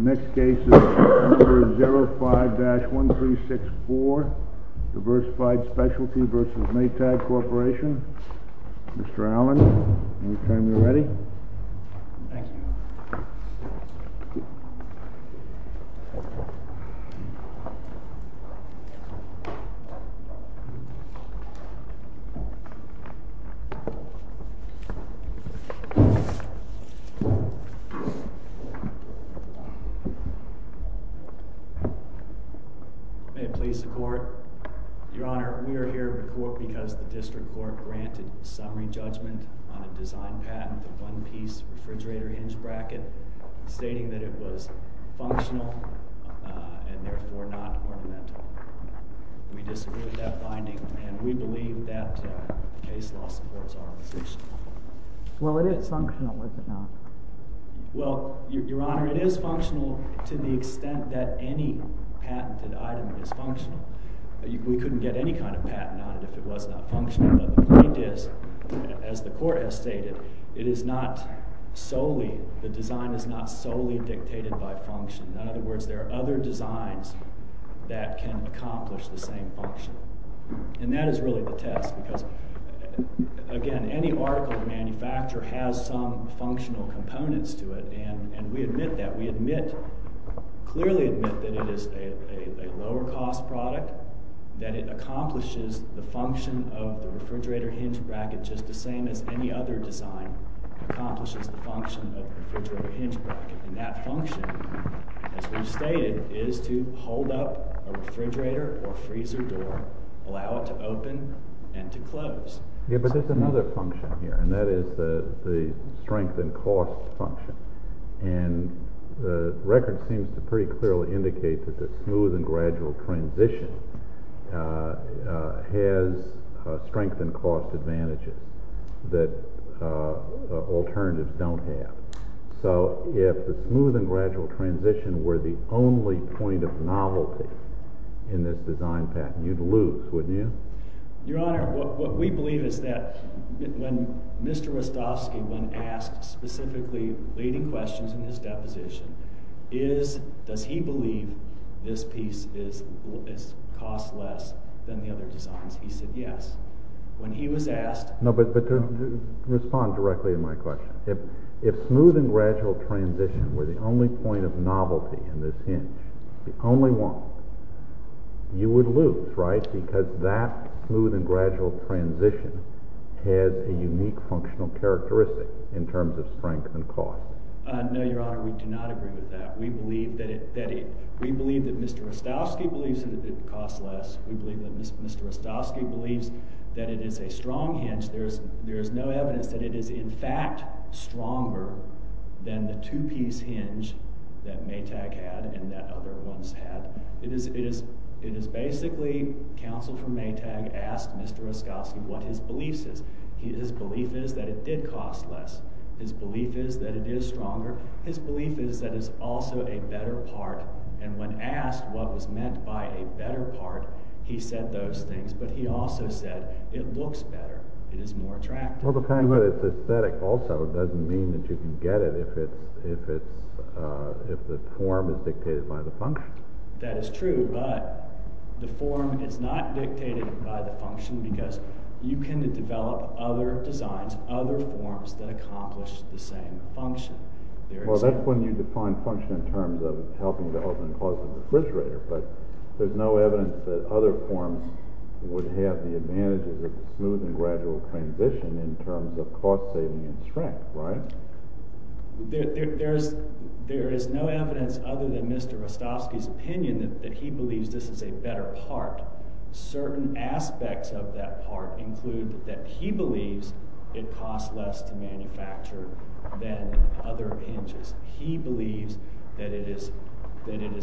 Mr. Allen, any time you're ready. Thank you. May it please the Court, Your Honor, we are here to report because the District Court granted a summary judgment on a design patent, a one-piece refrigerator hinge bracket, stating that it was functional and therefore not ornamental. We disagree with that finding and we believe that the case law supports our position. Well, it is functional, is it not? Well, Your Honor, it is functional to the extent that any patented item is functional. We couldn't get any kind of patent on it if it was not functional. But the point is, as the Court has stated, it is not solely, the design is not solely dictated by function. In other words, there are other designs that can accomplish the same function. And that is really the test because, again, any article of manufacture has some functional components to it and we admit that. We clearly admit that it is a lower cost product, that it accomplishes the function of the refrigerator hinge bracket just the same as any other design accomplishes the function of the refrigerator hinge bracket. And that function, as we've stated, is to hold up a refrigerator or freezer door, allow it to open and to close. Yeah, but there's another function here and that is the strength and cost function. And the record seems to pretty clearly indicate that the smooth and gradual transition has strength and cost advantages that alternatives don't have. So, if the smooth and gradual transition were the only point of novelty in this design patent, you'd lose, wouldn't you? Your Honor, what we believe is that when Mr. Rostovsky when asked specifically leading questions in his deposition is, does he believe this piece costs less than the other designs? He said yes. When he was asked… No, but respond directly to my question. If smooth and gradual transition were the only point of novelty in this hinge, the only one, you would lose, right? Because that smooth and gradual transition has a unique functional characteristic in terms of strength and cost. No, Your Honor, we do not agree with that. We believe that Mr. Rostovsky believes that it costs less. We believe that Mr. Rostovsky believes that it is a strong hinge. There is no evidence that it is in fact stronger than the two-piece hinge that Maytag had and that other ones had. It is basically counsel from Maytag asked Mr. Rostovsky what his belief is. His belief is that it did cost less. His belief is that it is stronger. His belief is that it is also a better part. And when asked what was meant by a better part, he said those things. But he also said it looks better. It is more attractive. Well, the fact that it's aesthetic also doesn't mean that you can get it if the form is dictated by the function. That is true. But the form is not dictated by the function because you can develop other designs, other forms that accomplish the same function. Well, that's when you define function in terms of helping to open and close the refrigerator. But there's no evidence that other forms would have the advantages of smooth and gradual transition in terms of cost saving and strength, right? There is no evidence other than Mr. Rostovsky's opinion that he believes this is a better part. Certain aspects of that part include that he believes it costs less to manufacture than other hinges. He believes that it is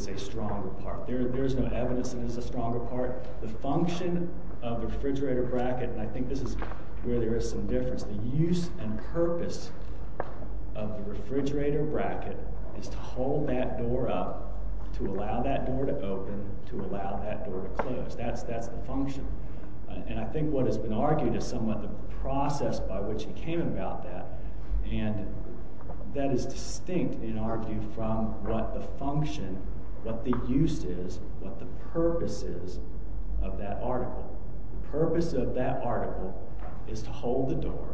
a stronger part. There is no evidence that it is a stronger part. The function of the refrigerator bracket, and I think this is where there is some difference, the use and purpose of the refrigerator bracket is to hold that door up, to allow that door to open, to allow that door to close. That's the function. And I think what has been argued is somewhat the process by which he came about that. And that is distinct, in our view, from what the function, what the use is, what the purpose is of that article. The purpose of that article is to hold the door,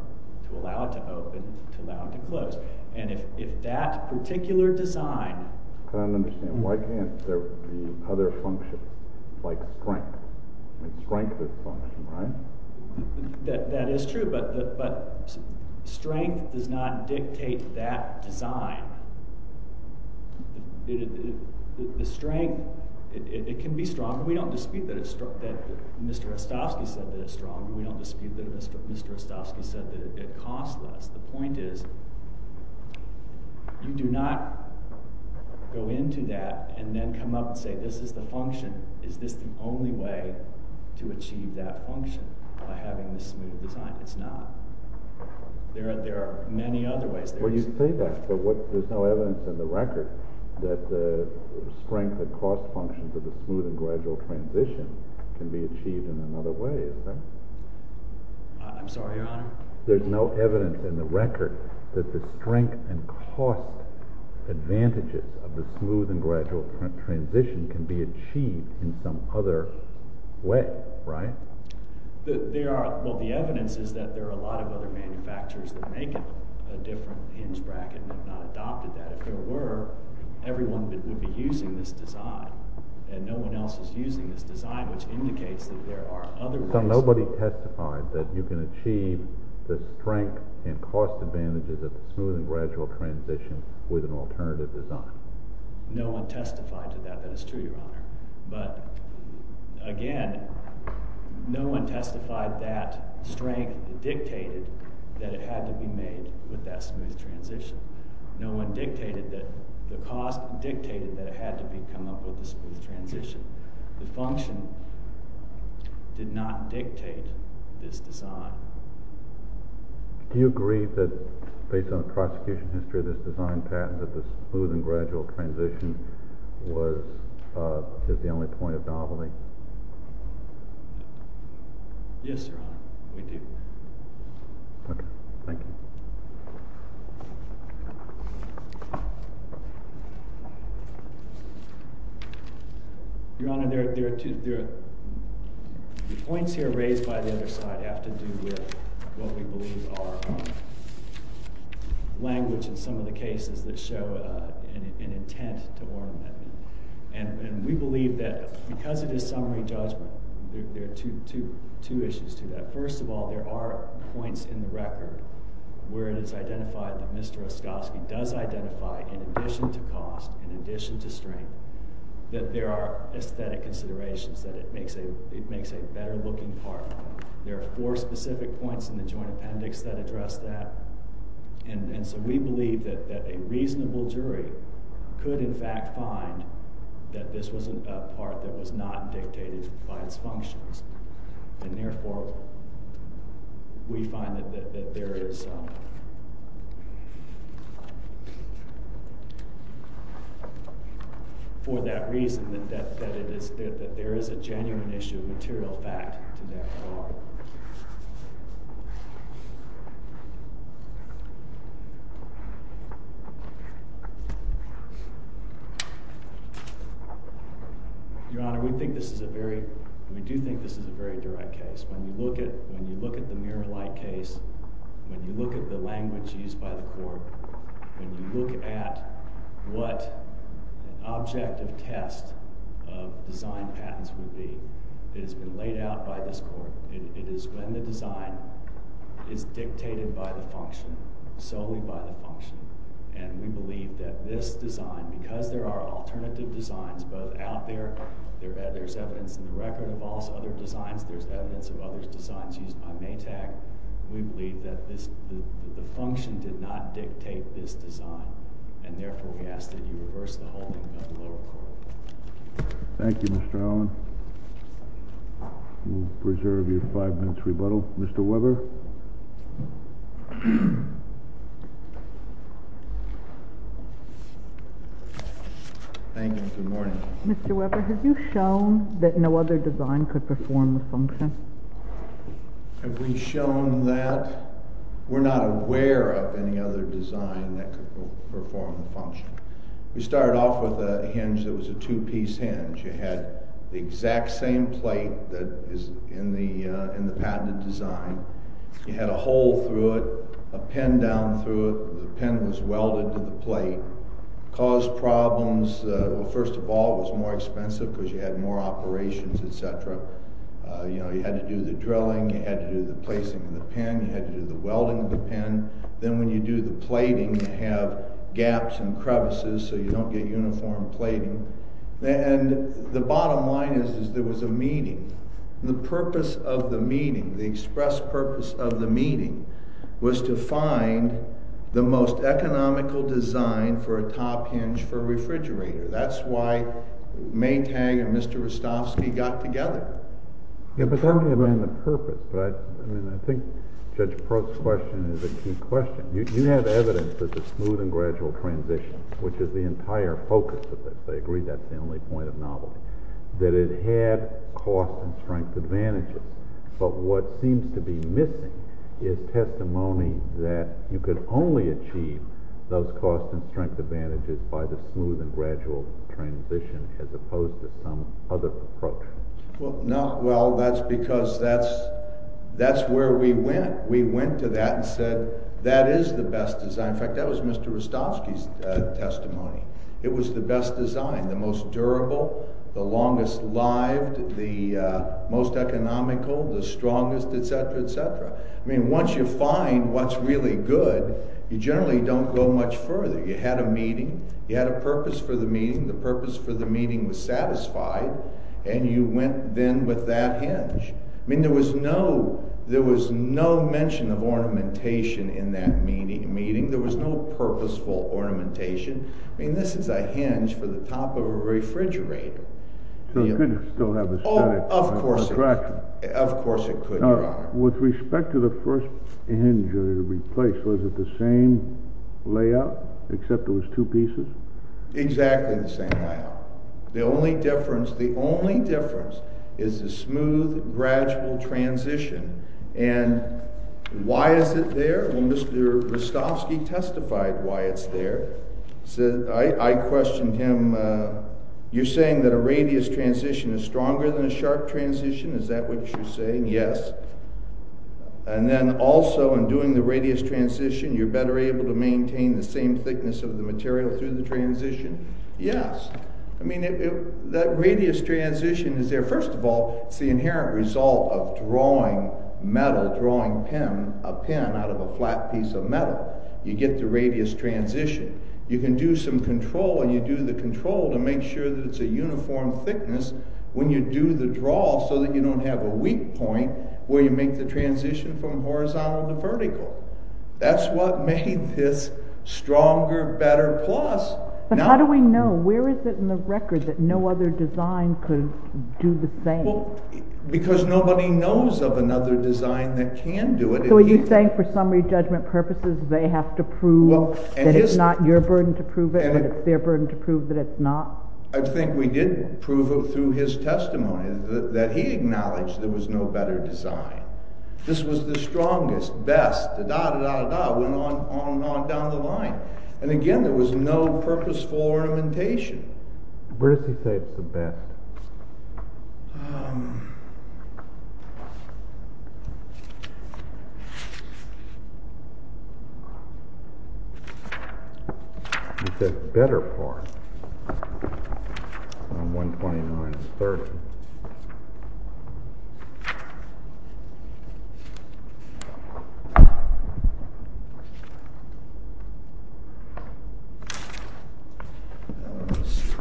to allow it to open, to allow it to close. And if that particular design... I don't understand. Why can't there be other functions, like strength? Strength is function, right? That is true, but strength does not dictate that design. The strength, it can be stronger. We don't dispute that Mr. Ostofsky said that it's stronger. We don't dispute that Mr. Ostofsky said that it costs less. The point is, you do not go into that and then come up and say, this is the function. Is this the only way to achieve that function, by having this smooth design? It's not. There are many other ways. Well, you say that, but there's no evidence in the record that the strength and cost functions of the smooth and gradual transition can be achieved in another way, is there? I'm sorry, Your Honor? There's no evidence in the record that the strength and cost advantages of the smooth and gradual transition can be achieved in some other way, right? Well, the evidence is that there are a lot of other manufacturers that make it a different hinge bracket and have not adopted that. If there were, everyone would be using this design. And no one else is using this design, which indicates that there are other ways... So nobody testified that you can achieve the strength and cost advantages of the smooth and gradual transition with an alternative design? No one testified to that. That is true, Your Honor. But again, no one testified that strength dictated that it had to be made with that smooth transition. No one dictated that the cost dictated that it had to be come up with a smooth transition. The function did not dictate this design. Do you agree that based on the prosecution history of this design patent that the smooth and gradual transition was the only point of novelty? Yes, Your Honor. We do. Okay. Thank you. Your Honor, the points here raised by the other side have to do with what we believe are language in some of the cases that show an intent to warn them. And we believe that because it is summary judgment, there are two issues to that. First of all, there are points in the record where it is identified that Mr. Oskoski does identify in addition to cost, in addition to strength, that there are aesthetic considerations, that it makes a better looking part. There are four specific points in the joint appendix that address that. And so we believe that a reasonable jury could in fact find that this was a part that was not dictated by its functions. And therefore, we find that there is, for that reason, that there is a genuine issue of material fact to that part. Your Honor, we think this is a very, we do think this is a very direct case. When you look at the mirror-like case, when you look at the language used by the court, when you look at what an objective test of design patents would be, it has been laid out by this court. It is when the design is dictated by the function, solely by the function. And we believe that this design, because there are alternative designs both out there, there's evidence in the record of other designs, there's evidence of other designs used by Maytag, we believe that the function did not dictate this design. And therefore, we ask that you reverse the holding of the lower court. Thank you, Mr. Allen. We'll preserve your five-minute rebuttal. Mr. Weber? Thank you, good morning. Mr. Weber, have you shown that no other design could perform the function? Have we shown that? We started off with a hinge that was a two-piece hinge. You had the exact same plate that is in the patented design. You had a hole through it, a pin down through it. The pin was welded to the plate. It caused problems. Well, first of all, it was more expensive because you had more operations, etc. You know, you had to do the drilling, you had to do the placing of the pin, you had to do the welding of the pin. Then when you do the plating, you have gaps and crevices, so you don't get uniform plating. And the bottom line is there was a meeting. The purpose of the meeting, the express purpose of the meeting, was to find the most economical design for a top hinge for a refrigerator. That's why Maytag and Mr. Rostovsky got together. Yeah, but that wouldn't have been the purpose. I think Judge Probst's question is a key question. You have evidence of the smooth and gradual transition, which is the entire focus of this. I agree that's the only point of novelty, that it had cost and strength advantages. But what seems to be missing is testimony that you could only achieve those cost and strength advantages by the smooth and gradual transition as opposed to some other approach. Well, that's because that's where we went. We went to that and said that is the best design. In fact, that was Mr. Rostovsky's testimony. It was the best design, the most durable, the longest lived, the most economical, the strongest, etc., etc. I mean, once you find what's really good, you generally don't go much further. You had a meeting. You had a purpose for the meeting. The purpose for the meeting was satisfied, and you went then with that hinge. I mean, there was no mention of ornamentation in that meeting. There was no purposeful ornamentation. I mean, this is a hinge for the top of a refrigerator. So it couldn't still have aesthetic attraction. Of course it could, Your Honor. Now, with respect to the first hinge that you replaced, was it the same layout except there was two pieces? Exactly the same layout. The only difference is the smooth, gradual transition. And why is it there? Well, Mr. Rostovsky testified why it's there. I questioned him. You're saying that a radius transition is stronger than a sharp transition. Is that what you're saying? Yes. And then also in doing the radius transition, you're better able to maintain the same thickness of the material through the transition? Yes. I mean, that radius transition is there, first of all, it's the inherent result of drawing metal, drawing a pen out of a flat piece of metal. You get the radius transition. You can do some control, and you do the control to make sure that it's a uniform thickness when you do the draw so that you don't have a weak point where you make the transition from horizontal to vertical. That's what made this stronger, better, plus. But how do we know? Where is it in the record that no other design could do the same? Because nobody knows of another design that can do it. So are you saying for summary judgment purposes, they have to prove that it's not your burden to prove it when it's their burden to prove that it's not? I think we did prove it through his testimony, that he acknowledged there was no better design. This was the strongest, best, da-da-da-da-da, went on and on down the line. And again, there was no purposeful ornamentation. Where does he say it's the best? He says better part. 129 is 30. Let's see. Let's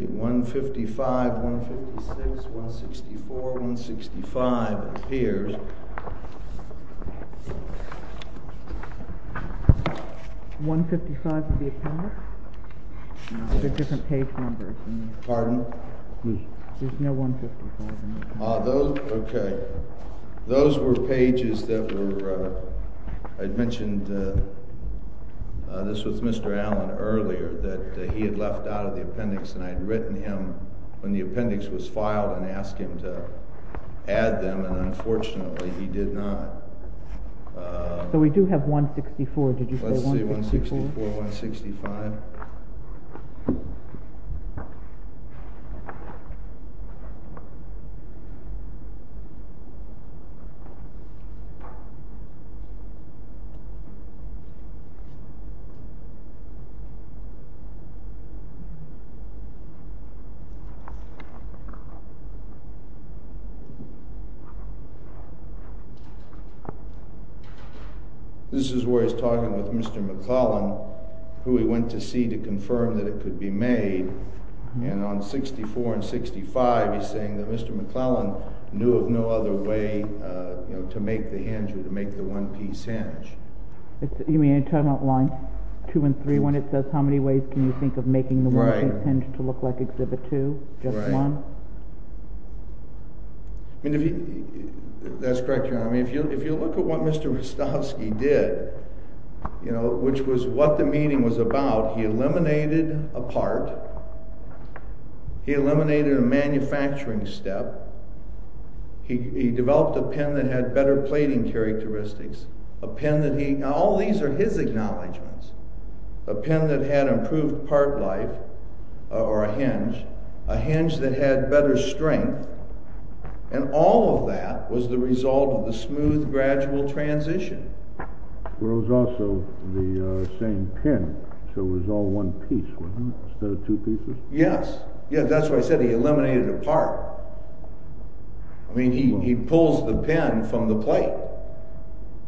see, 155, 156, 164, 165. It appears. 155 of the appendix? No, there's a different page number. Pardon? There's no 155 in there. Ah, those, okay. Those were pages that were, I had mentioned, this was Mr. Allen earlier, that he had left out of the appendix and I had written him when the appendix was filed and asked him to add them and unfortunately he did not. So we do have 164, did you say 164? Let's see, 164, 165. This is where he's talking with Mr. McClellan, who he went to see to confirm that it could be made, and on 64 and 65 he's saying that Mr. McClellan knew of no other way to make the hinge or to make the one-piece hinge. You mean in terms of lines 2 and 3, when it says how many ways can you think of making the one-piece hinge to look like Exhibit 2, just one? That's correct, Your Honor. If you look at what Mr. Rostovsky did, which was what the meeting was about, he eliminated a part, he eliminated a manufacturing step, he developed a pen that had better plating characteristics, a pen that he, now all these are his acknowledgments, a pen that had improved part life, or a hinge, a hinge that had better strength, and all of that was the result of the smooth, gradual transition. Well, it was also the same pen, so it was all one piece, wasn't it, instead of two pieces? Yes, that's why I said he eliminated a part. I mean, he pulls the pen from the plate.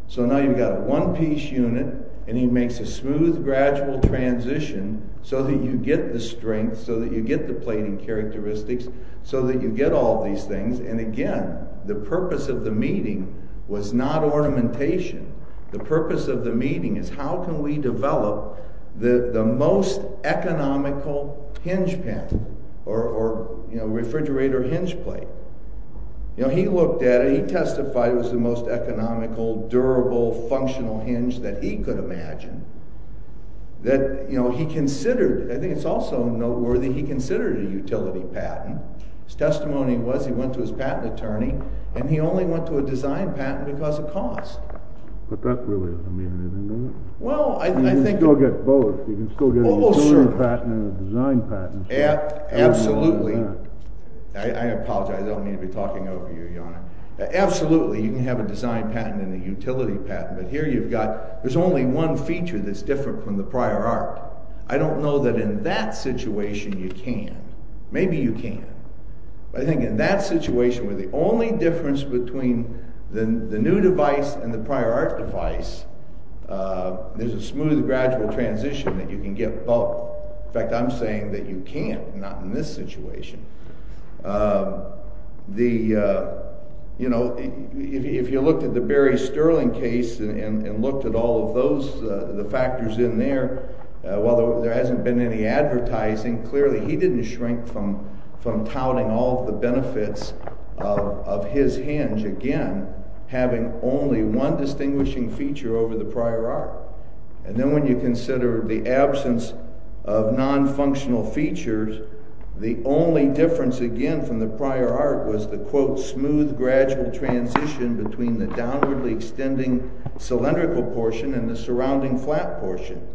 So now you've got a one-piece unit, and he makes a smooth, gradual transition so that you get the strength, so that you get the plating characteristics, so that you get all these things, and again, the purpose of the meeting was not ornamentation. The purpose of the meeting is how can we develop the most economical hinge pen, or refrigerator hinge plate. He looked at it, he testified it was the most economical, durable, functional hinge that he could imagine, that he considered, I think it's also noteworthy, he considered a utility patent. His testimony was he went to his patent attorney, and he only went to a design patent because of cost. But that really doesn't mean anything, does it? Well, I think... You can still get both. You can still get a utility patent and a design patent. Absolutely. I apologize, I don't mean to be talking over you, Your Honor. Absolutely, you can have a design patent and a utility patent, but here you've got... There's only one feature that's different from the prior art. I don't know that in that situation you can. Maybe you can. But I think in that situation where the only difference between the new device and the prior art device, there's a smooth, gradual transition that you can get both. In fact, I'm saying that you can't, not in this situation. If you looked at the Barry Sterling case and looked at all of those factors in there, while there hasn't been any advertising, clearly he didn't shrink from touting all the benefits of his hinge, again, having only one distinguishing feature over the prior art. And then when you consider the absence of non-functional features, the only difference, again, from the prior art was the, quote, smooth, gradual transition between the downwardly extending cylindrical portion and the surrounding flat portion.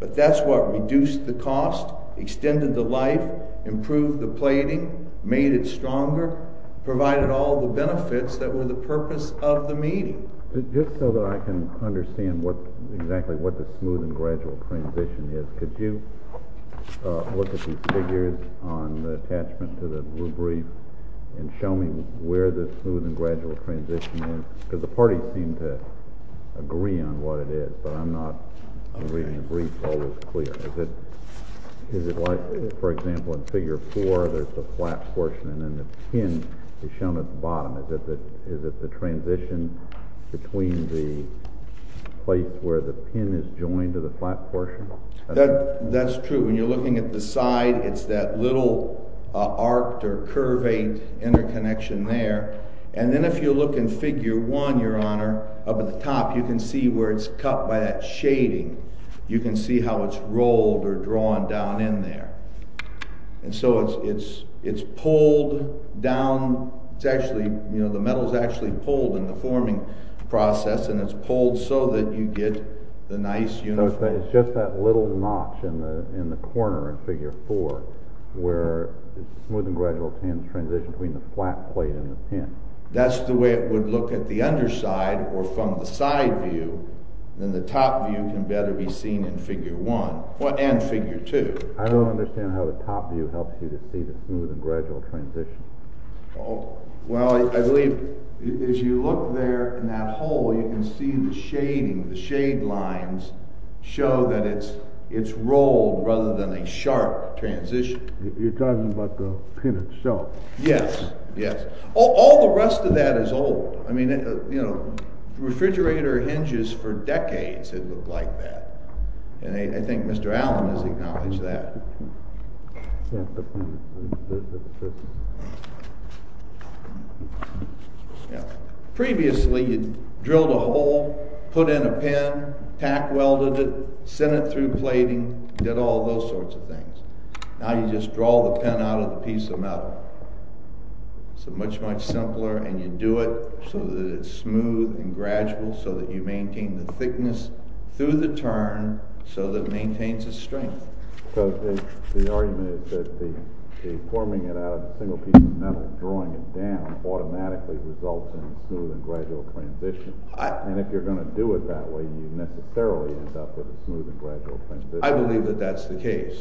But that's what reduced the cost, extended the life, improved the plating, made it stronger, provided all the benefits that were the purpose of the meeting. Just so that I can understand exactly what the smooth and gradual transition is, could you look at these figures on the attachment to the blue brief and show me where the smooth and gradual transition is? Because the parties seem to agree on what it is, but I'm not reading the briefs all as clear. Is it like, for example, in Figure 4, there's the flat portion and then the pin is shown at the bottom. Is it the transition between the place where the pin is joined to the flat portion? That's true. When you're looking at the side, it's that little arced or curvate interconnection there. And then if you look in Figure 1, Your Honor, up at the top, you can see where it's cut by that shading. You can see how it's rolled or drawn down in there. And so it's pulled down. The metal is actually pulled in the forming process and it's pulled so that you get the nice uniform... It's just that little notch in the corner in Figure 4 where the smooth and gradual transition between the flat plate and the pin. That's the way it would look at the underside or from the side view. Then the top view can better be seen in Figure 1 and Figure 2. I don't understand how the top view helps you to see the smooth and gradual transition. Well, I believe as you look there in that hole, you can see the shading. The shade lines show that it's rolled rather than a sharp transition. You're talking about the pin itself. Yes, yes. All the rest of that is old. I mean, you know, refrigerator hinges for decades had looked like that. And I think Mr. Allen has acknowledged that. Yeah. Previously, you drilled a hole, put in a pin, tack-welded it, sent it through plating, did all those sorts of things. Now you just draw the pin out of the piece of metal. It's much, much simpler, and you do it so that it's smooth and gradual so that you maintain the thickness through the turn so that it maintains its strength. Because the argument is that the forming it out of a single piece of metal and drawing it down automatically results in a smooth and gradual transition. And if you're going to do it that way, you necessarily end up with a smooth and gradual transition. I believe that that's the case.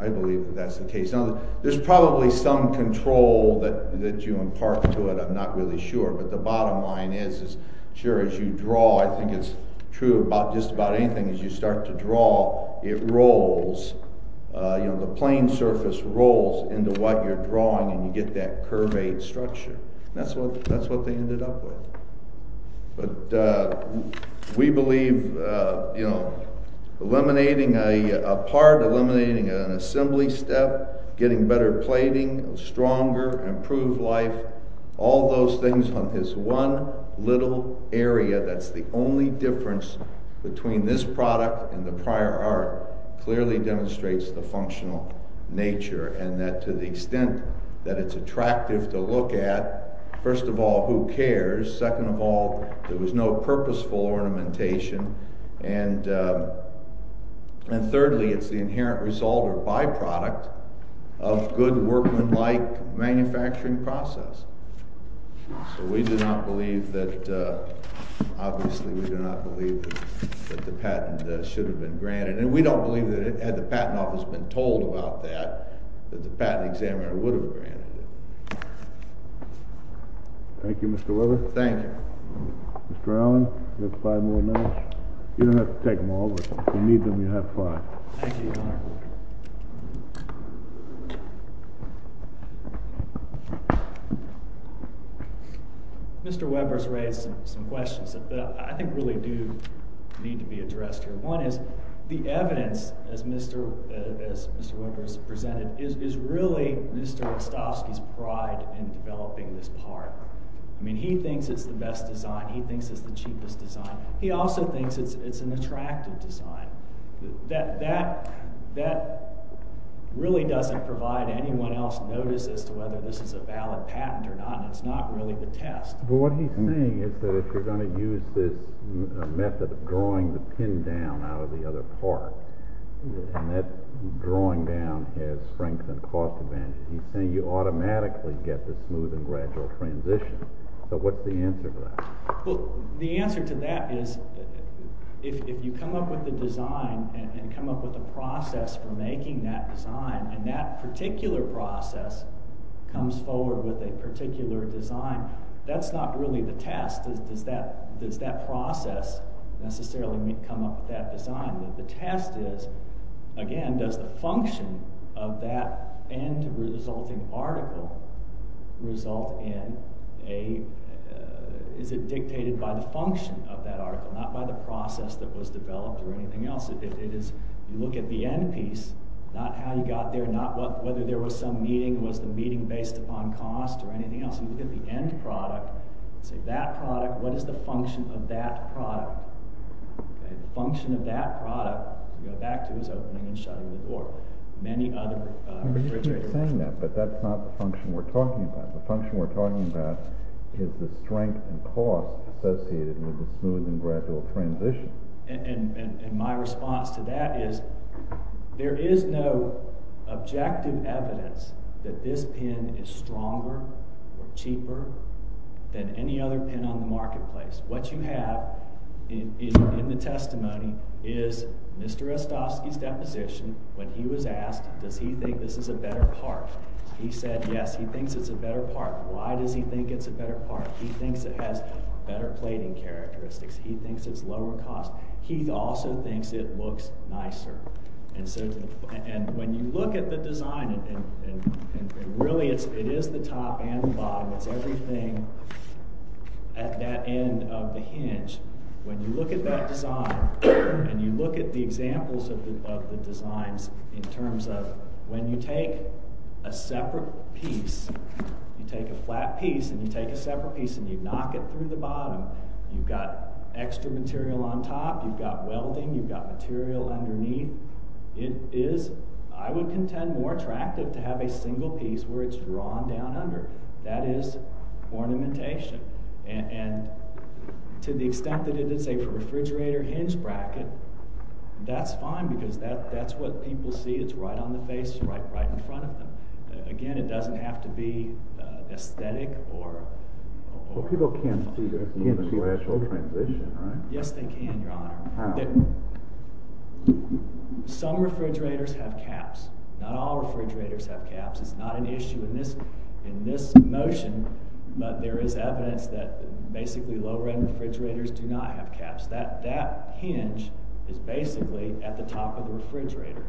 I believe that that's the case. Now, there's probably some control that you impart to it. I'm not really sure. But the bottom line is, sure, as you draw, I think it's true about just about anything. As you start to draw, it rolls. The plane surface rolls into what you're drawing, and you get that curved structure. And that's what they ended up with. But we believe eliminating a part, eliminating an assembly step, getting better plating, stronger, improved life, all those things on this one little area that's the only difference between this product and the prior art, clearly demonstrates the functional nature. And that to the extent that it's attractive to look at, first of all, who cares? Second of all, there was no purposeful ornamentation. And thirdly, it's the inherent result or byproduct of good workmanlike manufacturing process. So we do not believe that, obviously, we do not believe that the patent should have been granted. And we don't believe that, had the Patent Office been told about that, that the patent examiner would have granted it. Thank you, Mr. Weber. Thank you. Mr. Allen, you have five more minutes. You don't have to take them all, but if you need them, you have five. Thank you, Your Honor. Mr. Weber's raised some questions that I think really do need to be addressed here. One is, the evidence, as Mr. Weber has presented, is really Mr. Ostofsky's pride in developing this part. I mean, he thinks it's the best design. He thinks it's the cheapest design. He also thinks it's an attractive design. That really doesn't provide anyone else notice as to whether this is a valid patent or not, and it's not really the test. But what he's saying is that if you're going to use this method of drawing the pin down out of the other part, and that drawing down has strengthened cost advantage, he's saying you automatically get the smooth and gradual transition. So what's the answer to that? Well, the answer to that is, if you come up with the design and come up with a process for making that design, and that particular process comes forward with a particular design, that's not really the test. Does that process necessarily come up with that design? The test is, again, does the function of that end-resulting article result in a... Is it dictated by the function of that article, not by the process that was developed or anything else? If you look at the end piece, not how you got there, not whether there was some meeting, was the meeting based upon cost or anything else? If you look at the end product, say that product, what is the function of that product? The function of that product, you go back to his opening and shutting the door, many other... He's saying that, but that's not the function we're talking about. The function we're talking about is the strength and cost associated with the smooth and gradual transition. And my response to that is, there is no objective evidence that this pen is stronger or cheaper than any other pen on the marketplace. What you have in the testimony is Mr. Ostofsky's deposition, when he was asked, does he think this is a better part? He said, yes, he thinks it's a better part. Why does he think it's a better part? He thinks it has better plating characteristics. He thinks it's lower cost. He also thinks it looks nicer. And when you look at the design, and really, it is the top and the bottom. It's everything at that end of the hinge. When you look at that design, and you look at the examples of the designs in terms of when you take a separate piece, you take a flat piece, and you take a separate piece, and you knock it through the bottom, you've got extra material on top, you've got welding, you've got material underneath. It is, I would contend, more attractive to have a single piece where it's drawn down under. That is ornamentation. And to the extent that it is a refrigerator hinge bracket, that's fine because that's what people see. It's right on the face, right in front of them. Again, it doesn't have to be aesthetic or... Well, people can see the smooth and gradual transition, right? Yes, they can, Your Honor. How? Some refrigerators have caps. Not all refrigerators have caps. It's not an issue in this motion, but there is evidence that basically low-end refrigerators do not have caps. That hinge is basically at the top of the refrigerator.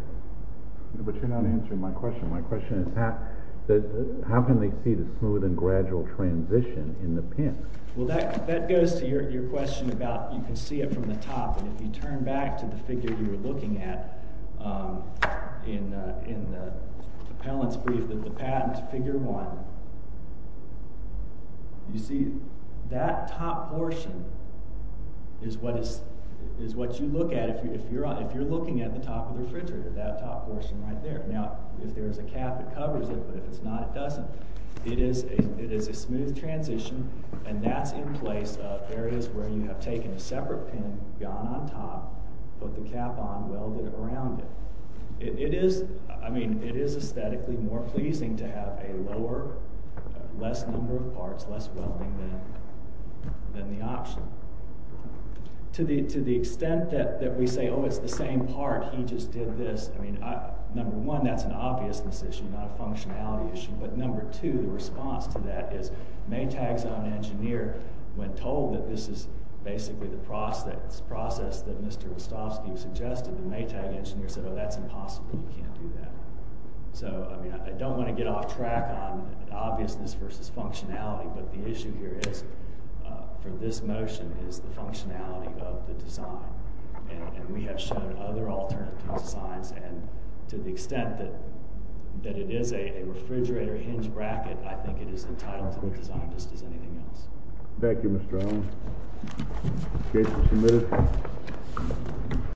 But you're not answering my question. My question is, how can they see the smooth and gradual transition in the pin? Well, that goes to your question about you can see it from the top, and if you turn back to the figure you were looking at in the appellant's brief, the patent figure one, you see that top portion is what you look at if you're looking at the top of the refrigerator, that top portion right there. Now, if there's a cap, it covers it, but if it's not, it doesn't. It is a smooth transition, and that's in place of areas where you have taken a separate pin, gone on top, put the cap on, welded around it. It is aesthetically more pleasing to have a lower, less number of parts, less welding than the option. To the extent that we say, oh, it's the same part, he just did this. Number one, that's an obviousness issue, not a functionality issue. But number two, the response to that is Maytag's own engineer, when told that this is basically the process that Mr. Rostovsky suggested, the Maytag engineer said, oh, that's impossible. You can't do that. So, I don't want to get off track on obviousness versus functionality, but the issue here is, for this motion, is the functionality of the design. And we have shown other alternative designs, and to the extent that it is a refrigerator hinge bracket, I think it is entitled to the design just as anything else. Thank you, Mr. Owens. Case is submitted.